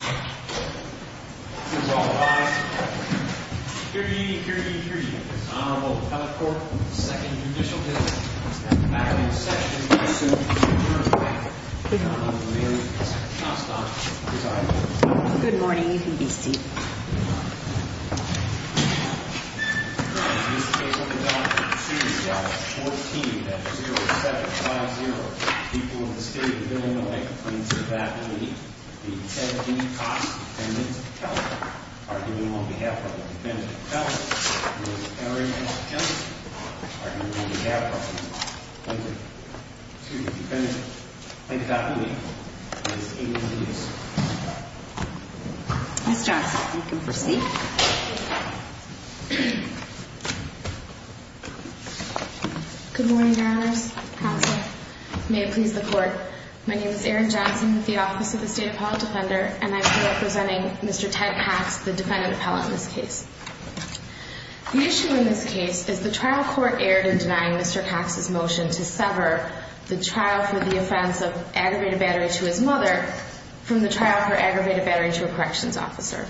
Katherine E. Conway We will now begin the hearing on behalf of the Defendant's Counsel, Ms. Erin Johnson, arguing on behalf of the Defendant. Ms. Johnson, you can proceed. Erin Johnson Good morning, Your Honors. Counsel, may it please the Court, my name is Erin Johnson with the Office of the State Appellate Defender, and I am here representing Mr. Ted Pax, the Defendant Appellant in this case. The issue in this case is the trial court erred in denying Mr. Pax's motion to sever the trial for the offense of aggravated battery to his mother from the trial for aggravated battery to a corrections officer.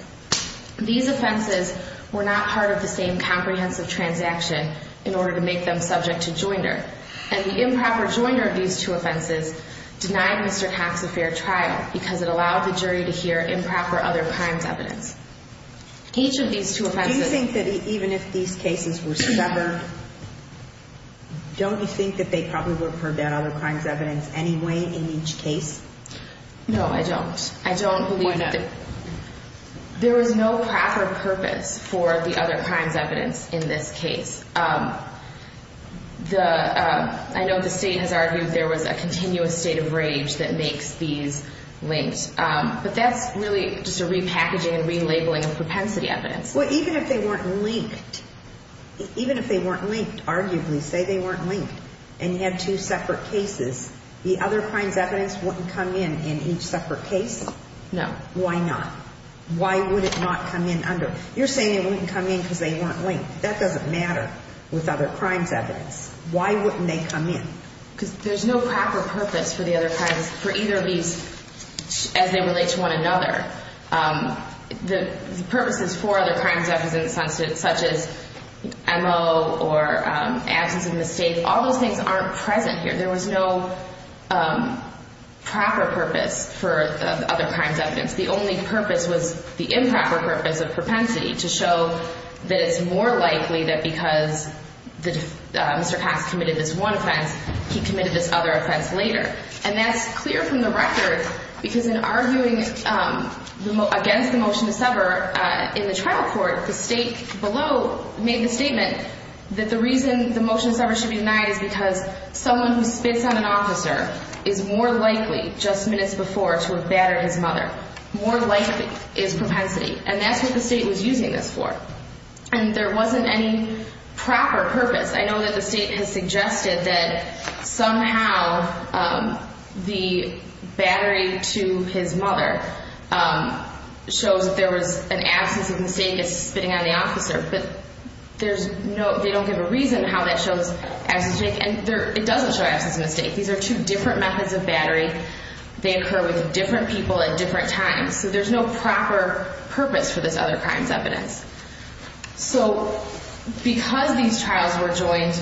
These offenses were not part of the same comprehensive transaction in order to make them subject to joinder, and the improper joinder of these two offenses denied Mr. Pax a fair trial because it allowed the jury to hear improper other crimes evidence. Each of these two offenses Do you think that even if these cases were severed, don't you think that they probably would prevent other crimes evidence anyway in each case? No, I don't. I don't believe that. Why not? There is no proper purpose for the other crimes evidence in this case. I know the state has argued there was a continuous state of rage that makes these linked, but that's really just a repackaging and relabeling of propensity evidence. Well, even if they weren't linked, even if they weren't linked, arguably say they weren't linked, and you have two separate cases, the other crimes evidence wouldn't come in in each separate case? No. Why not? Why would it not come in under? You're saying it wouldn't come in because they weren't linked. That doesn't matter with other crimes evidence. Why wouldn't they come in? Because there's no proper purpose for the other crimes, for either of these, as they relate to one another. The purposes for other crimes evidence such as M.O. or absence of mistake, all those things aren't present here. There was no proper purpose for the other crimes evidence. The only purpose was the improper purpose of propensity, to show that it's more likely that because Mr. Cox committed this one offense, he committed this other offense later. And that's clear from the record, because in arguing against the motion to sever in the trial court, the state below made the statement that the reason the motion to sever should be denied is because someone who spits on an officer is more likely just minutes before to have battered his mother. More likely is propensity. And that's what the state was using this for. And there wasn't any proper purpose. I know that the state has suggested that somehow the battery to his mother shows that there was an absence of mistake as to spitting on the officer, but they don't give a reason how that shows absence of mistake, and it doesn't show absence of mistake. These are two different methods of battery. They occur with different people at different times. So there's no proper purpose for this other crimes evidence. So because these trials were joined,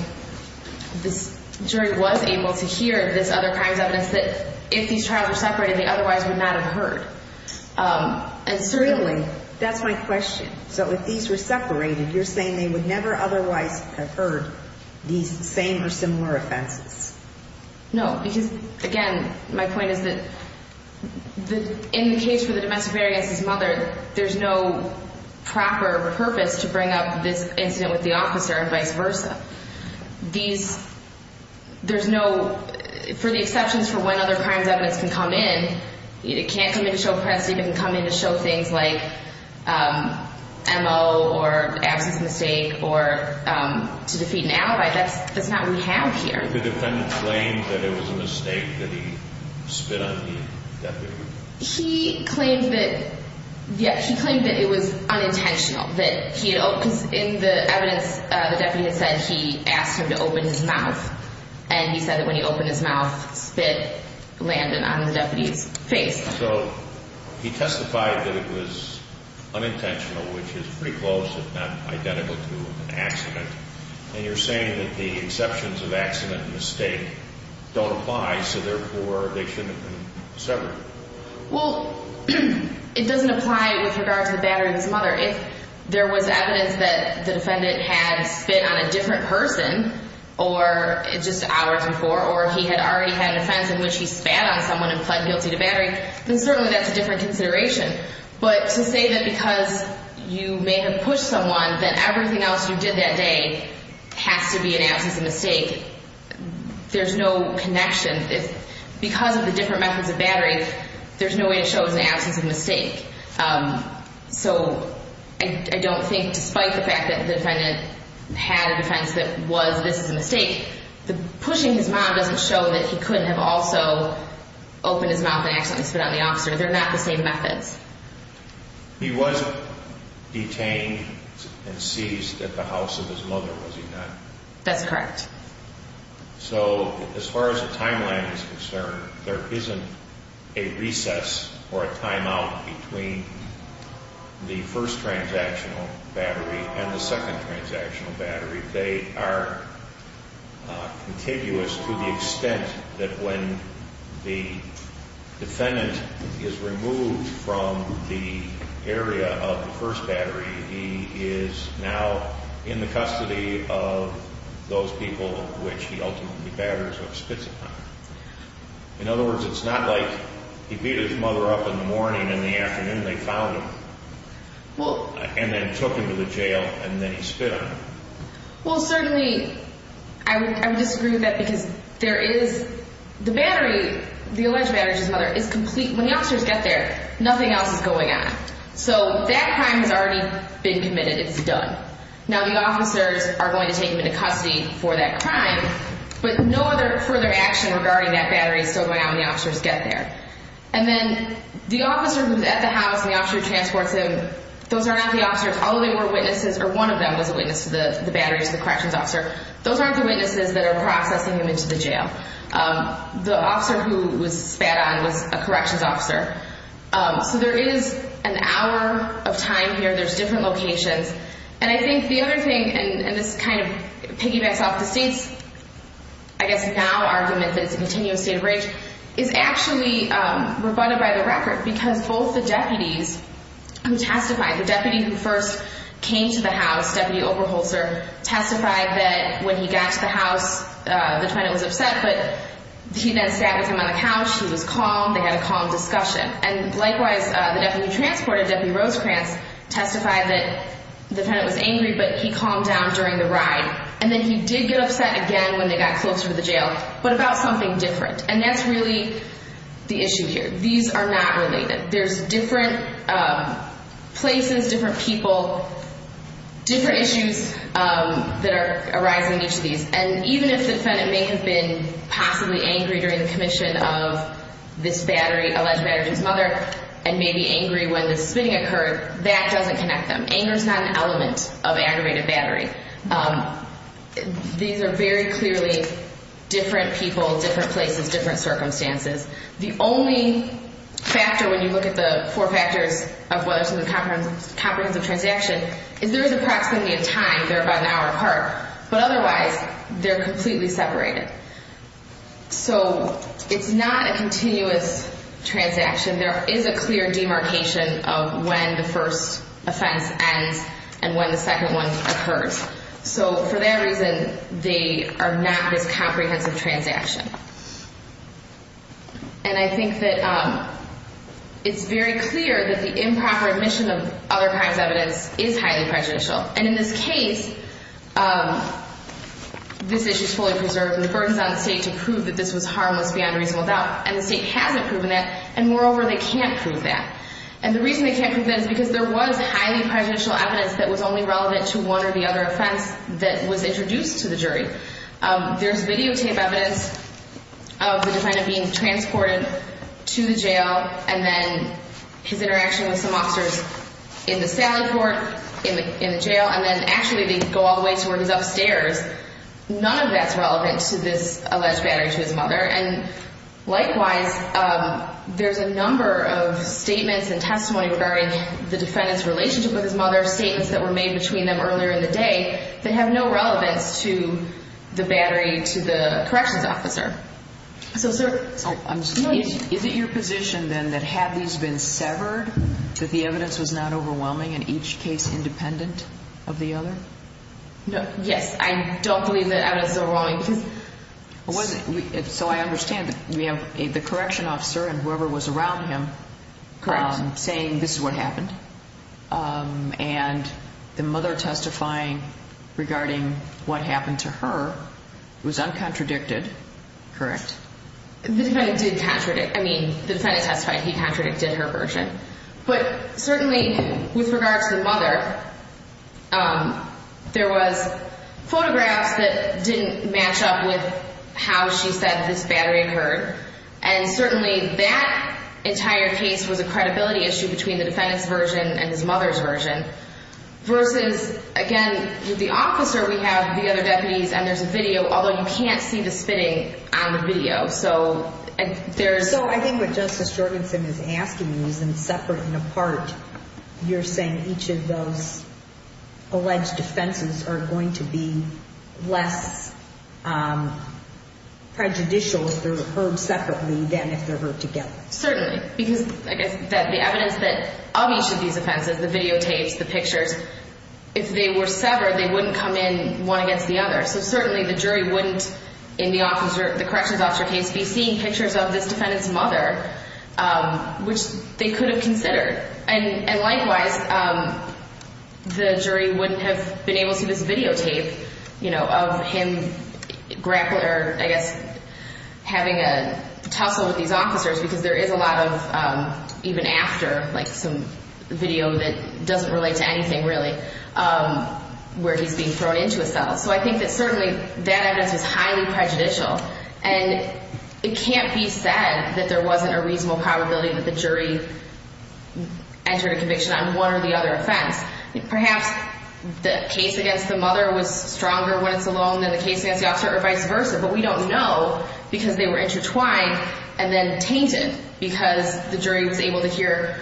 this jury was able to hear this other crimes evidence that if these trials were separated, they otherwise would not have heard. And certainly... Really? That's my question. So if these were separated, you're saying they would never otherwise have heard these same or similar offenses? No. Because, again, my point is that in the case for the domestic barrier against his mother, there's no proper purpose to bring up this incident with the officer and vice versa. These... There's no... For the exceptions for when other crimes evidence can come in, it can't come in to show press, it can come in to show things like M.O. or absence of mistake or to defeat an alibi. That's not what we have here. Did the defendant claim that it was a mistake that he spit on the deputy? He claimed that... Yeah, he claimed that it was unintentional, that he had... Because in the evidence, the deputy had said he asked him to open his mouth. And he said that when he opened his mouth, spit landed on the deputy's face. So he testified that it was unintentional, which is pretty close, if not identical to an accident. And you're saying that the exceptions of accident and mistake don't apply. So therefore, addiction and severing. Well, it doesn't apply with regard to the battery of his mother. If there was evidence that the defendant had spit on a different person, or just hours before, or he had already had an offense in which he spat on someone and pled guilty to battery, then certainly that's a different consideration. But to say that because you may have pushed someone, that everything else you did that day has to be an absence of mistake, there's no connection. Because of the different methods of battery, there's no way to show it's an absence of mistake. So I don't think, despite the fact that the defendant had an offense that was this is a mistake, the pushing his mom doesn't show that he couldn't have also opened his mouth and accidentally spit on the officer. They're not the same methods. He was detained and seized at the house of his mother, was he not? That's correct. So as far as the timeline is concerned, there isn't a recess or a timeout between the first transactional battery and the second transactional battery. They are contiguous to the extent that when the defendant is removed from the area of the first battery, he is now in the custody of those people which he ultimately batters or spits upon. In other words, it's not like he beat his mother up in the morning and in the afternoon they found him and then took him to the jail and then he spit on him. Well certainly, I would disagree with that because there is, the battery, the alleged battery to his mother is complete. When the officers get there, nothing else is going on. So that crime has already been committed. It's done. Now the officers are going to take him into custody for that crime, but no other further action regarding that battery is still going on when the officers get there. And then the officer who is at the house, the officer who transports him, those are not the officers. Although they were witnesses, or one of them was a witness to the batteries, the corrections officer, those aren't the witnesses that are processing him into the jail. The officer who was spat on was a corrections officer. So there is an hour of time here. There's different locations. And I think the other thing, and this kind of piggybacks off the state's, I guess now argument that it's a continuous state of rage, is actually rebutted by the record. Because both the deputies who testified, the deputy who first came to the house, deputy Oberholzer, testified that when he got to the house, the defendant was upset, but he then sat with him on the couch. He was calm. They had a calm discussion. And likewise, the deputy who transported, deputy Rosecrans, testified that the defendant was angry, but he calmed down during the ride. And then he did get upset again when they got closer to the jail, but about something different. And that's really the issue here. These are not related. There's different places, different people, different issues that are arising in each of these. And even if the defendant may have been possibly angry during the commission of this battery, alleged battery to his mother, and may be angry when the spitting occurred, that doesn't connect them. Anger is not an element of aggravated battery. These are very clearly different people, different places, different circumstances. The only factor, when you look at the four factors of whether it's a comprehensive transaction, is there is approximately a time. They're about an hour apart. But otherwise, they're completely separated. So it's not a continuous transaction. There is a clear demarcation of when the first offense ends and when the second one occurs. So for that reason, they are not this comprehensive transaction. And I think that it's very clear that the improper admission of other crimes evidence is highly prejudicial. And in this case, this issue is fully preserved. And the burden is on the state to prove that this was harmless beyond reasonable doubt. And the state hasn't proven it. And moreover, they can't prove that. And the reason they can't prove that is because there was highly prejudicial evidence that was only relevant to one or the other offense that was introduced to the jury. There's videotape evidence of the defendant being transported to the jail, and then his interaction with some officers in the sally court, in the jail, and then actually they go all the way to where he's upstairs. None of that's relevant to this alleged battery to his mother. And likewise, there's a number of statements and testimony regarding the defendant's relationship with his mother, statements that were made between them earlier in the day that have no relevance to the battery to the corrections officer. Is it your position then that had these been severed, that the evidence was not overwhelming in each case independent of the other? Yes, I don't believe that evidence is overwhelming. So I understand that we have the correction officer and whoever was around him saying this is what happened. And the mother testifying regarding what happened to her was uncontradicted, correct? The defendant did contradict. I mean, the defendant testified he contradicted her version. But certainly with regards to the mother, there was photographs that didn't match up with how she said this battery occurred. And certainly that entire case was a credibility issue between the defendant's version and his mother's version. Versus, again, with the officer, we have the other deputies, and there's a video, although you can't see the spitting on the video. So I think what Justice Jorgensen is asking you is in separate and apart, you're saying each of those alleged offenses are going to be less prejudicial if they're heard separately than if they're heard together. Certainly, because I guess the evidence of each of these offenses, the videotapes, the pictures, if they were severed, they wouldn't come in one against the other. So certainly the jury wouldn't, in the corrections officer case, be seeing pictures of this defendant's mother, which they could have considered. And likewise, the jury wouldn't have been able to see this videotape of him having a tussle with these officers, because there is a lot of, even after, some video that doesn't relate to anything really, where he's being thrown into a cell. So I think that certainly that evidence is highly prejudicial. And it can't be said that there wasn't a reasonable probability that the jury entered a conviction on one or the other offense. Perhaps the case against the mother was stronger when it's alone than the case against the officer, or vice versa. But we don't know, because they were intertwined and then tainted, because the jury was able to hear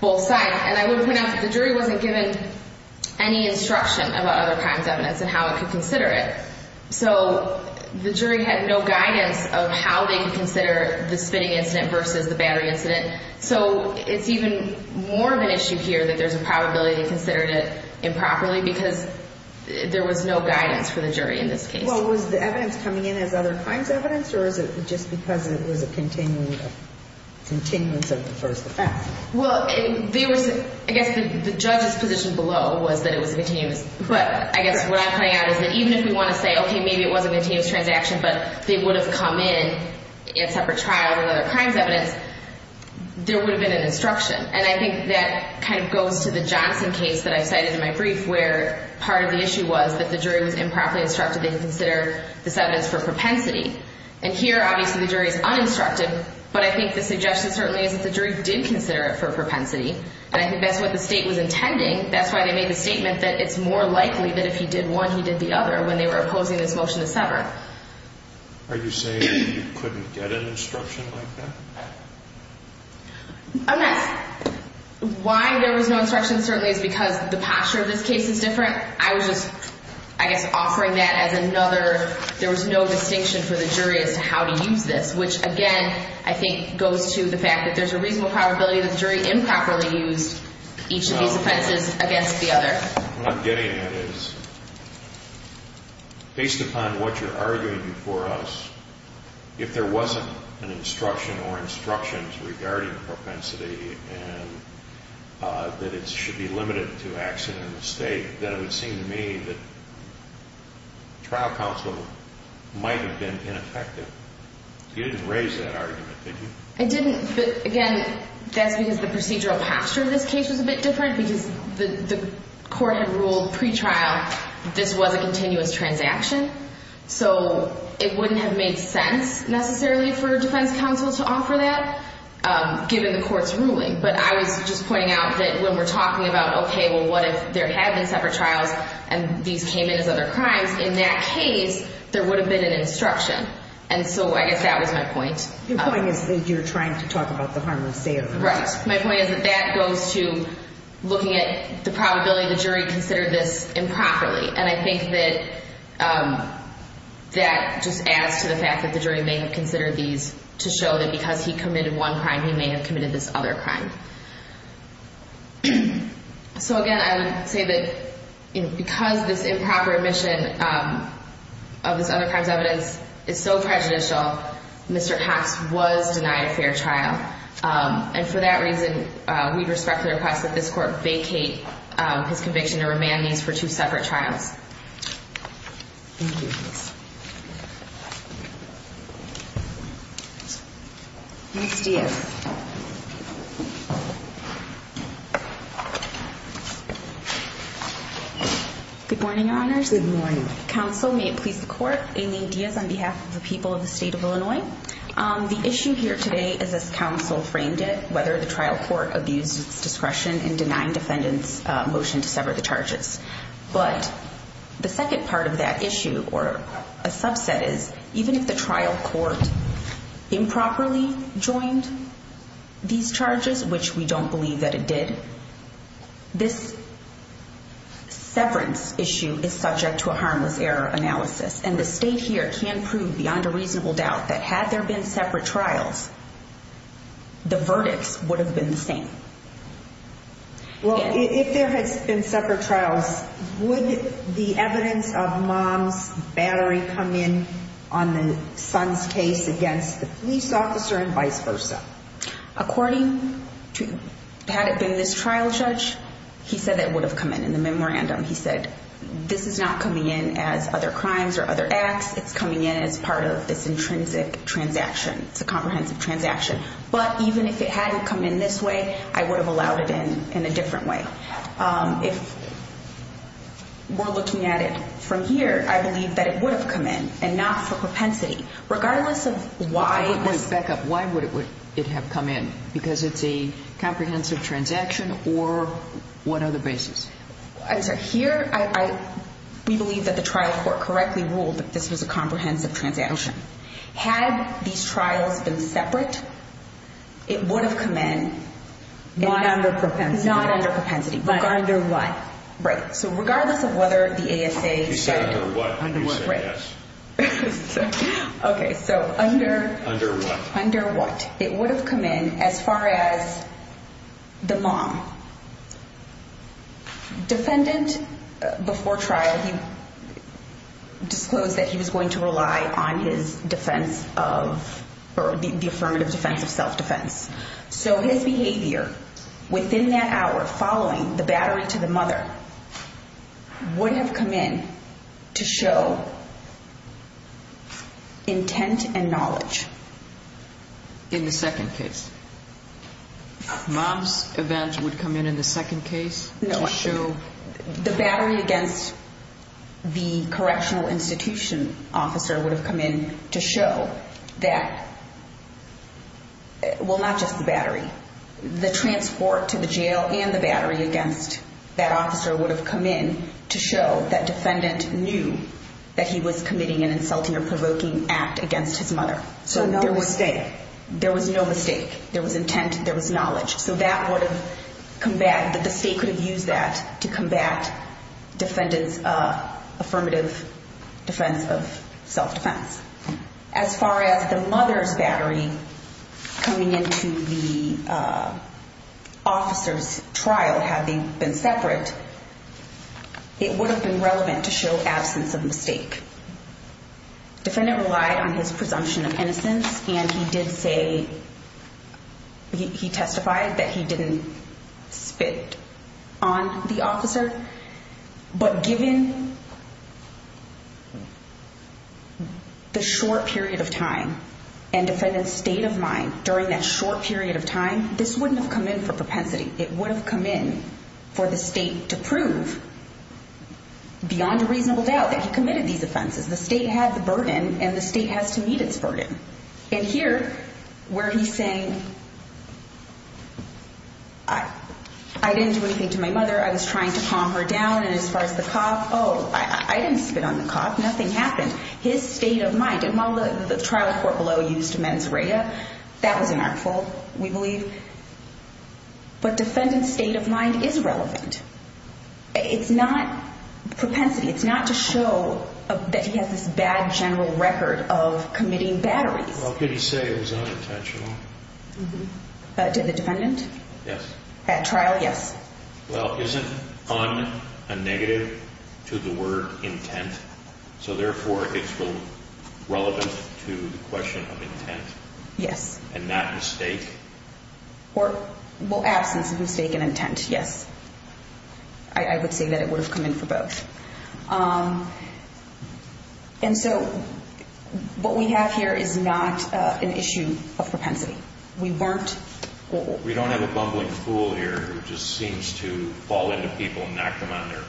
both sides. And I would point out that the jury wasn't given any instruction about other crimes evidence and how it could consider it. So the jury had no guidance of how they could consider the spitting incident versus the battery incident. So it's even more of an issue here that there's a probability they considered it improperly, because there was no guidance for the jury in this case. Well, was the evidence coming in as other crimes evidence, or is it just because it was a continuance of the first offense? Well, there was, I guess the judge's position below was that it was a continuance. But I guess what I'm pointing out is that even if we want to say, okay, maybe it was a continuance transaction, but they would have come in at separate trials with other crimes evidence, there would have been an instruction. And I think that kind of goes to the Johnson case that I cited in my brief, where part of the issue was that the jury was improperly instructed they could consider this evidence for propensity. And here, obviously, the jury is uninstructed, but I think the suggestion certainly is that the jury did consider it for propensity, and I think that's what the state was intending. That's why they made the statement that it's more likely that if he did one, he did the other when they were opposing this motion to sever. Are you saying that you couldn't get an instruction like that? I'm not... Why there was no instruction certainly is because the posture of this case is different. I was just, I guess, offering that as another... There was no distinction for the jury as to how to use this, which, again, I think goes to the fact that there's a reasonable probability that the jury improperly used each of these offenses against the other. What I'm getting at is, based upon what you're arguing for us, if there wasn't an instruction or instructions regarding propensity and that it should be limited to accident and mistake, then it would seem to me that trial counsel might have been ineffective. You didn't raise that argument, did you? I didn't, but, again, that's because the procedural posture of this case was a bit different because the court had ruled pre-trial that this was a continuous transaction. So it wouldn't have made sense necessarily for defense counsel to offer that given the court's ruling. But I was just pointing out that when we're talking about, okay, well, what if there had been separate trials and these came in as other crimes? In that case, there would have been an instruction. And so I guess that was my point. Your point is that you're trying to talk about the harmless sale. Right. My point is that that goes to looking at the probability the jury considered this improperly. And I think that that just adds to the fact that the jury may have considered these to show that because he committed one crime, he may have committed this other crime. So, again, I would say that because this improper admission of this other crime's evidence is so prejudicial, Mr. Cox was denied a fair trial. And for that reason, we'd respectfully request that this court vacate his conviction and remand these for two separate trials. Thank you. Ms. Diaz. Good morning, Your Honors. Good morning. Counsel, may it please the Court, I'm Aileen Diaz on behalf of the people of the state of Illinois. The issue here today is as counsel framed it, whether the trial court abused its discretion in denying defendants' motion to sever the charges. But the second part of that issue or a subset is, even if the trial court improperly joined these charges, which we don't believe that it did, this severance issue is subject to a harmless error analysis. And the state here can prove beyond a reasonable doubt that had there been separate trials, the verdicts would have been the same. Well, if there has been separate trials, would the evidence of mom's battery come in on the son's case against the police officer and vice versa? According to, had it been this trial judge, he said it would have come in in the memorandum. He said, this is not coming in as other crimes or other acts. It's coming in as part of this intrinsic transaction. It's a comprehensive transaction. But even if it hadn't come in this way, I would have allowed it in a different way. If we're looking at it from here, I believe that it would have come in and not for propensity. Regardless of why... I would like to back up. Why would it have come in? Because it's a comprehensive transaction or what other basis? I'm sorry. Here, we believe that the trial court correctly ruled that this was a comprehensive transaction. Had these trials been separate, it would have come in... Not under propensity. Not under propensity. But under what? Right. So regardless of whether the ASA said... You said under what, and you said yes. Okay, so under... Under what? Under what? It would have come in as far as the mom. Defendant, before trial, he disclosed that he was going to rely on his defense of... Or the affirmative defense of self-defense. So his behavior within that hour, following the battery to the mother, would have come in to show intent and knowledge. In the second case, mom's event would come in in the second case? No. To show... The battery against the correctional institution officer would have come in to show that... Well, not just the battery. The transport to the jail and the battery against that officer would have come in to show that defendant knew that he was committing an insulting or provoking act against his mother. So no mistake. There was no mistake. There was intent. There was knowledge. So that would have... That the state could have used that to combat defendant's affirmative defense of self-defense. As far as the mother's battery coming in to the officer's trial, had they been separate, it would have been relevant to show absence of mistake. Defendant relied on his presumption of innocence, and he did say... He testified that he didn't spit on the officer. But given the short period of time and defendant's state of mind during that short period of time, this wouldn't have come in for propensity. It would have come in for the state to prove, beyond a reasonable doubt, that he committed these offenses. The state had the burden, and the state has to meet its burden. And here, where he's saying, I didn't do anything to my mother. I was trying to calm her down. And as far as the cop, oh, I didn't spit on the cop. Nothing happened. His state of mind... And while the trial court below used mens rea, that was an artful, we believe. But defendant's state of mind is relevant. It's not propensity. It's not to show that he has this bad general record of committing batteries. Well, could he say it was unintentional? To the defendant? Yes. At trial, yes. Well, isn't un a negative to the word intent? So therefore, it's relevant to the question of intent? Yes. And not mistake? Well, absence of mistake and intent, yes. I would say that it would have come in for both. And so what we have here is not an issue of propensity. We weren't... We don't have a bumbling fool here who just seems to fall into people and knock them on their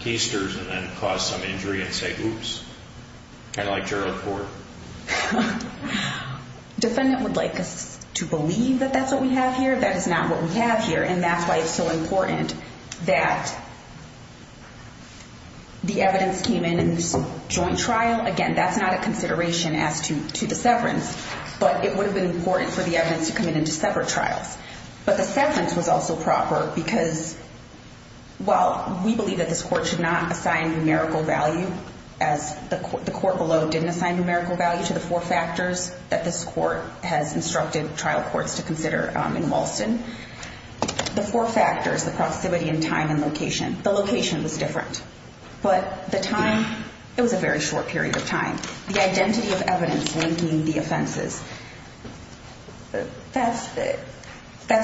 keisters and then cause some injury and say, oops. Kind of like Gerald Ford. Defendant would like us to believe that that's what we have here. That is not what we have here. And that's why it's so important that the evidence came in in this joint trial. Again, that's not a consideration as to the severance. But it would have been important for the evidence to come in into separate trials. But the severance was also proper because while we believe that this court should not assign numerical value, as the court below didn't assign numerical value to the four factors that this court has instructed trial courts to consider in Walston. The four factors, the proximity and time and location. The location was different. But the time, it was a very short period of time. The identity of evidence linking the offenses. That's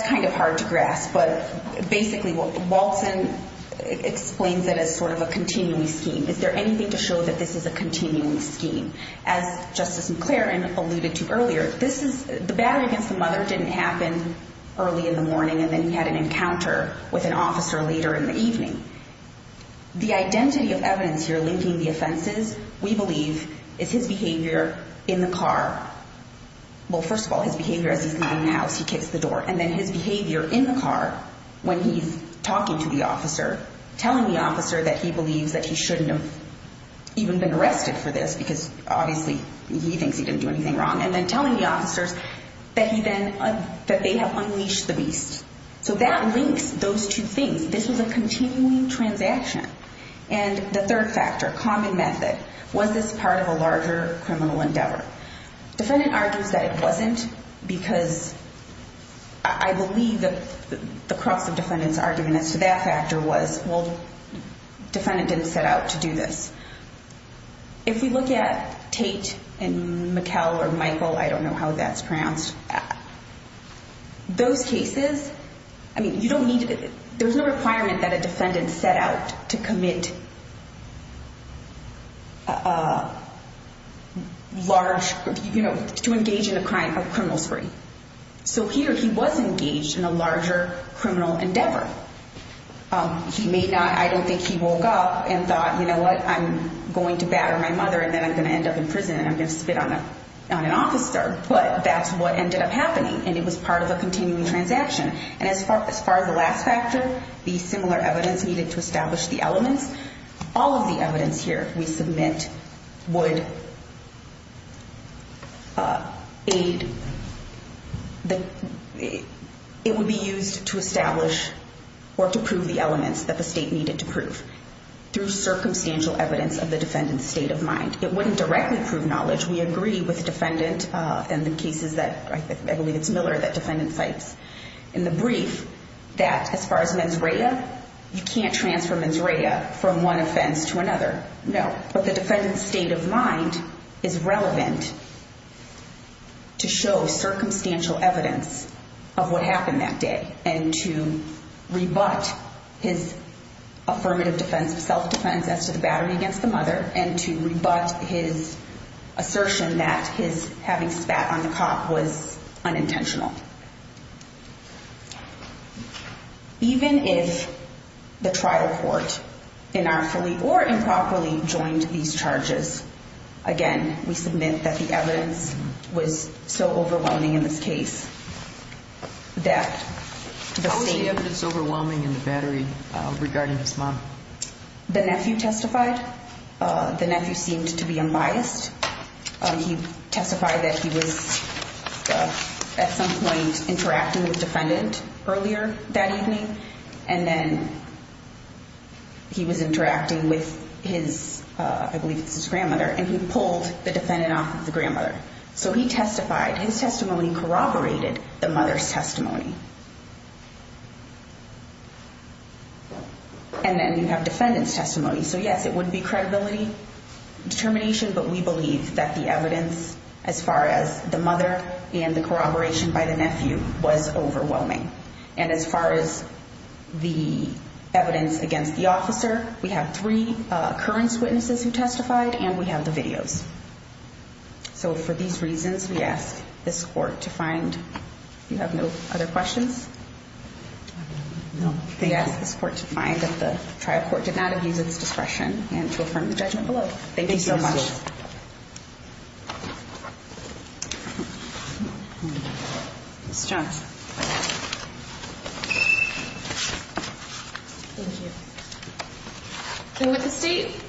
kind of hard to grasp. But basically, Walston explains it as sort of a continuing scheme. Is there anything to show that this is a continuing scheme? As Justice McLaren alluded to earlier, the battle against the mother didn't happen early in the morning, and then he had an encounter with an officer later in the evening. The identity of evidence here linking the offenses, we believe, is his behavior in the car. Well, first of all, his behavior as he's leaving the house, he kicks the door. And then his behavior in the car when he's talking to the officer, telling the officer that he believes that he shouldn't have even been arrested for this because obviously he thinks he didn't do anything wrong. And then telling the officers that he then, that they have unleashed the beast. So that links those two things. This was a continuing transaction. And the third factor, common method. Was this part of a larger criminal endeavor? Defendant argues that it wasn't because I believe that the crux of defendant's argument as to that factor was, well, defendant didn't set out to do this. If we look at Tate and McKell or Michael, I don't know how that's pronounced. Those cases, I mean, you don't need to, there's no requirement that a defendant set out to commit large, you know, to engage in a crime, a criminal spree. So here he was engaged in a larger criminal endeavor. He may not, I don't think he woke up and thought, you know what, I'm going to batter my mother and then I'm going to end up in prison and I'm going to spit on an officer. But that's what ended up happening. And it was part of a continuing transaction. And as far as the last factor, the similar evidence needed to establish the elements, all of the evidence here we submit would aid, it would be used to establish or to prove the elements that the state needed to prove. Through circumstantial evidence of the defendant's state of mind. It wouldn't directly prove knowledge. We agree with the defendant in the cases that, I believe it's Miller that defendant cites in the brief, that as far as mens rea, you can't transfer mens rea from one offense to another. No. But the defendant's state of mind is relevant to show circumstantial evidence of what happened that day and to rebut his affirmative defense, self-defense as to the battering against the mother and to rebut his assertion that his having spat on the cop was unintentional. Even if the trial court inartfully or improperly joined these charges, again, we submit that the evidence was so overwhelming in this case that the state... How was the evidence overwhelming in the battery regarding his mom? The nephew testified. The nephew seemed to be unbiased. He testified that he was at some point interacting with the defendant earlier that evening, and then he was interacting with his, I believe it's his grandmother, and he pulled the defendant off of the grandmother. So he testified. His testimony corroborated the mother's testimony. And then you have defendant's testimony. So, yes, it would be credibility determination, but we believe that the evidence as far as the mother and the corroboration by the nephew was overwhelming. And as far as the evidence against the officer, we have 3 occurrence witnesses who testified, and we have the videos. So for these reasons, we ask this court to find... You have no other questions? We ask this court to find that the trial court did not abuse its discretion and to affirm the judgment below. Thank you so much. Ms. Jones. Thank you. So with the state,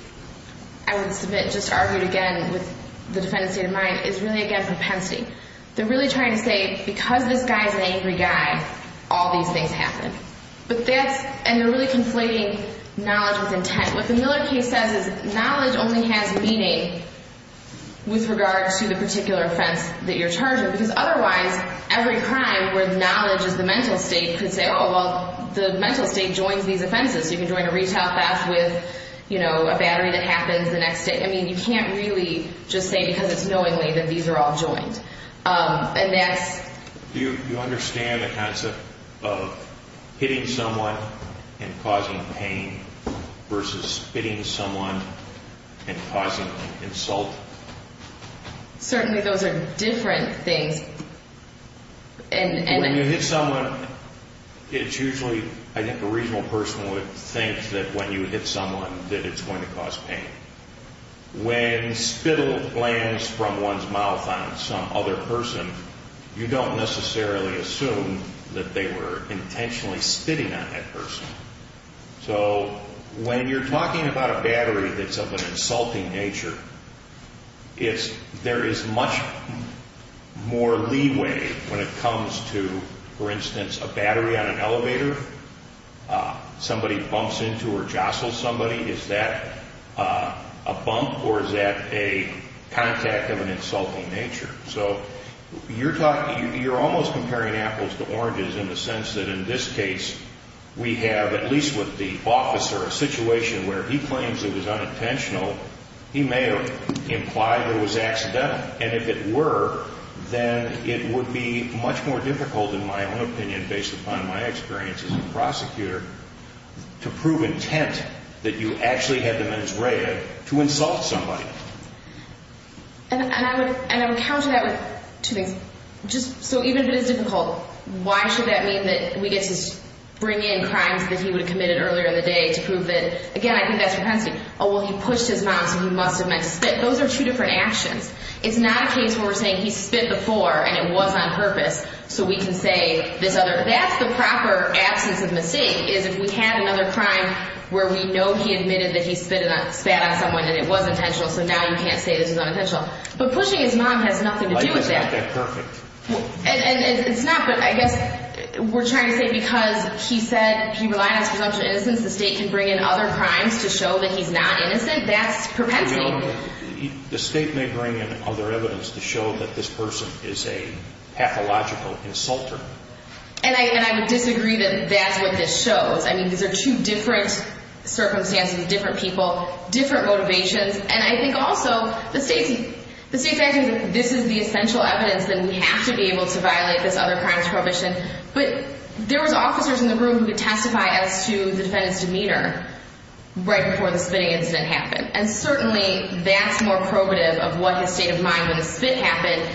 I would submit, just argued again with the defendant's state of mind, is really, again, propensity. They're really trying to say, because this guy's an angry guy, all these things happen. And they're really conflating knowledge with intent. What the Miller case says is knowledge only has meaning with regard to the particular offense that you're charged with. Because otherwise, every crime where knowledge is the mental state could say, oh, well, the mental state joins these offenses. So you can join a retail theft with, you know, a battery that happens the next day. I mean, you can't really just say because it's knowingly that these are all joined. Do you understand the concept of hitting someone and causing pain versus spitting someone and causing insult? Certainly, those are different things. When you hit someone, it's usually, I think a reasonable person would think that when you hit someone that it's going to cause pain. When spittle lands from one's mouth on some other person, you don't necessarily assume that they were intentionally spitting on that person. So when you're talking about a battery that's of an insulting nature, there is much more leeway when it comes to, for instance, a battery on an elevator. If somebody bumps into or jostles somebody, is that a bump or is that a contact of an insulting nature? So you're almost comparing apples to oranges in the sense that in this case, we have, at least with the officer, a situation where he claims it was unintentional. He may have implied it was accidental. And if it were, then it would be much more difficult in my own opinion, based upon my experience as a prosecutor, to prove intent that you actually had the mens rea to insult somebody. And I would counter that with two things. So even if it is difficult, why should that mean that we get to bring in crimes that he would have committed earlier in the day to prove that, again, I think that's propensity. Oh, well, he pushed his mouth, so he must have meant to spit. Those are two different actions. It's not a case where we're saying he spit before and it was on purpose, so we can say this other... That's the proper absence of mistake, is if we had another crime where we know he admitted that he spat on someone and it was intentional, so now you can't say this was unintentional. But pushing his mom has nothing to do with that. And it's not, but I guess we're trying to say that because he said he relied on his presumption of innocence, the state can bring in other crimes to show that he's not innocent. That's propensity. The state may bring in other evidence to show that this person is a pathological insulter. And I would disagree that that's what this shows. I mean, these are two different circumstances, different people, different motivations, and I think also the state... The state factors that this is the essential evidence that we have to be able to violate this other crimes prohibition. But there was officers in the room who could testify as to the defendant's demeanor right before the spitting incident happened. And certainly that's more probative of what his state of mind when the spit happened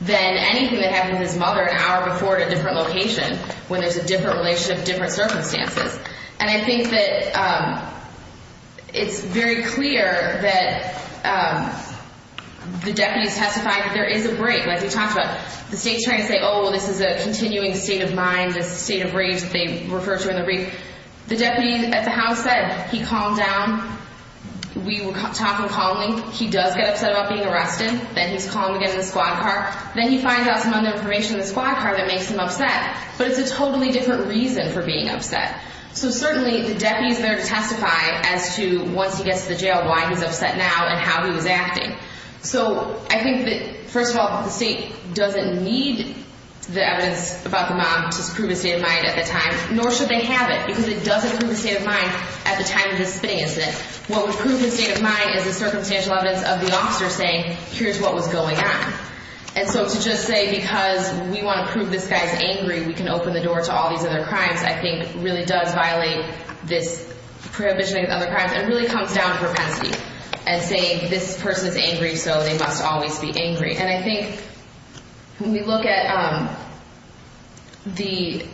than anything that happened to his mother an hour before at a different location when there's a different relationship, different circumstances. And I think that it's very clear that the deputies testified that there is a break, like we talked about. The state's trying to say, oh, this is a continuing state of mind, this state of rage that they refer to in the brief. The deputy at the house said he calmed down. We were talking calmly. He does get upset about being arrested. Then he's calm again in the squad car. Then he finds out some other information in the squad car that makes him upset. But it's a totally different reason for being upset. So certainly the deputy's there to testify as to once he gets to the jail why he's upset now and how he was acting. So I think that, first of all, the state doesn't need the evidence about the mom to prove his state of mind at the time, nor should they have it because it doesn't prove his state of mind at the time of the spitting incident. What would prove his state of mind is the circumstantial evidence of the officer saying, here's what was going on. And so to just say, because we want to prove this guy's angry, we can open the door to all these other crimes, I think really does violate this prohibition of other crimes and really comes down to propensity and saying this person is angry, so they must always be angry. And I think when we look at the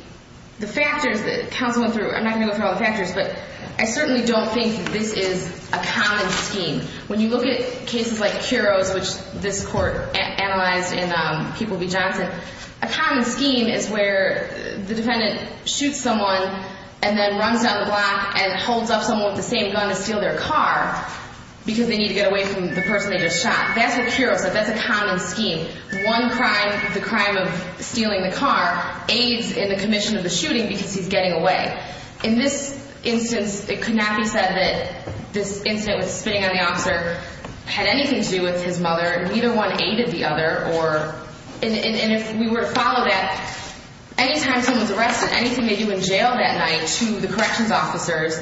factors that counsel went through, I'm not going to go through all the factors, but I certainly don't think this is a common scheme. When you look at cases like Kuro's, which this court analyzed in People v. Johnson, a common scheme is where the defendant shoots someone and then runs down the block and holds up someone with the same gun to steal their car because they need to get away from the person they just shot. That's what Kuro said. That's a common scheme. One crime, the crime of stealing the car, aids in the commission of the shooting because he's getting away. In this instance, it could not be said that this incident with spitting on the officer had anything to do with his mother. Neither one aided the other. And if we were to follow that, any time someone's arrested, anything they do in jail that night to the corrections officers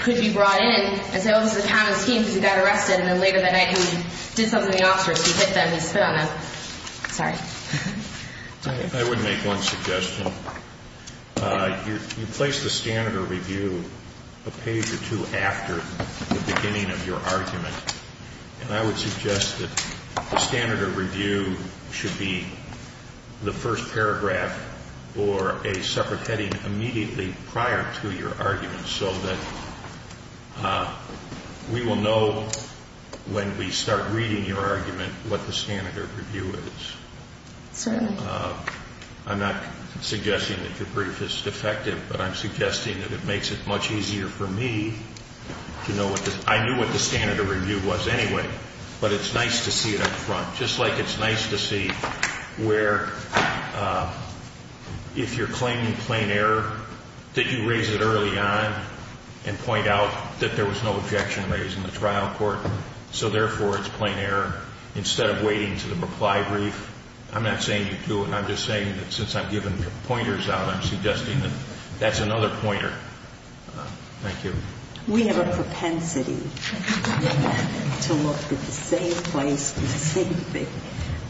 could be brought in and say, oh, this is a common scheme because he got arrested and then later that night he did something to the officers, he hit them, he spit on them. Sorry. I would make one suggestion. You place the standard of review a page or two after the beginning of your argument and I would suggest that the standard of review should be the first paragraph or a separate heading immediately prior to your argument so that we will know when we start reading your argument what the standard of review is. Certainly. I'm not suggesting that your brief is defective but I'm suggesting that it makes it much easier for me I knew what the standard of review was anyway but it's nice to see it up front. Just like it's nice to see where if you're claiming plain error that you raise it early on and point out that there was no objection raised in the trial court so therefore it's plain error instead of waiting to the reply brief. I'm not saying you do it. I'm just saying that since I'm giving pointers out I'm suggesting that that's another pointer. We have a propensity to look at the same place for the same thing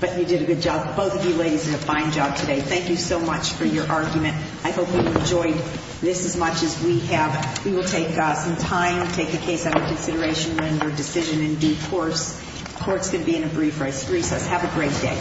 but you did a good job. Both of you ladies did a fine job today. Thank you so much for your argument. I hope you enjoyed this as much as we have. We will take some time to take the case out of consideration when we're decision in due course. Court's going to be in a brief recess. Have a great day.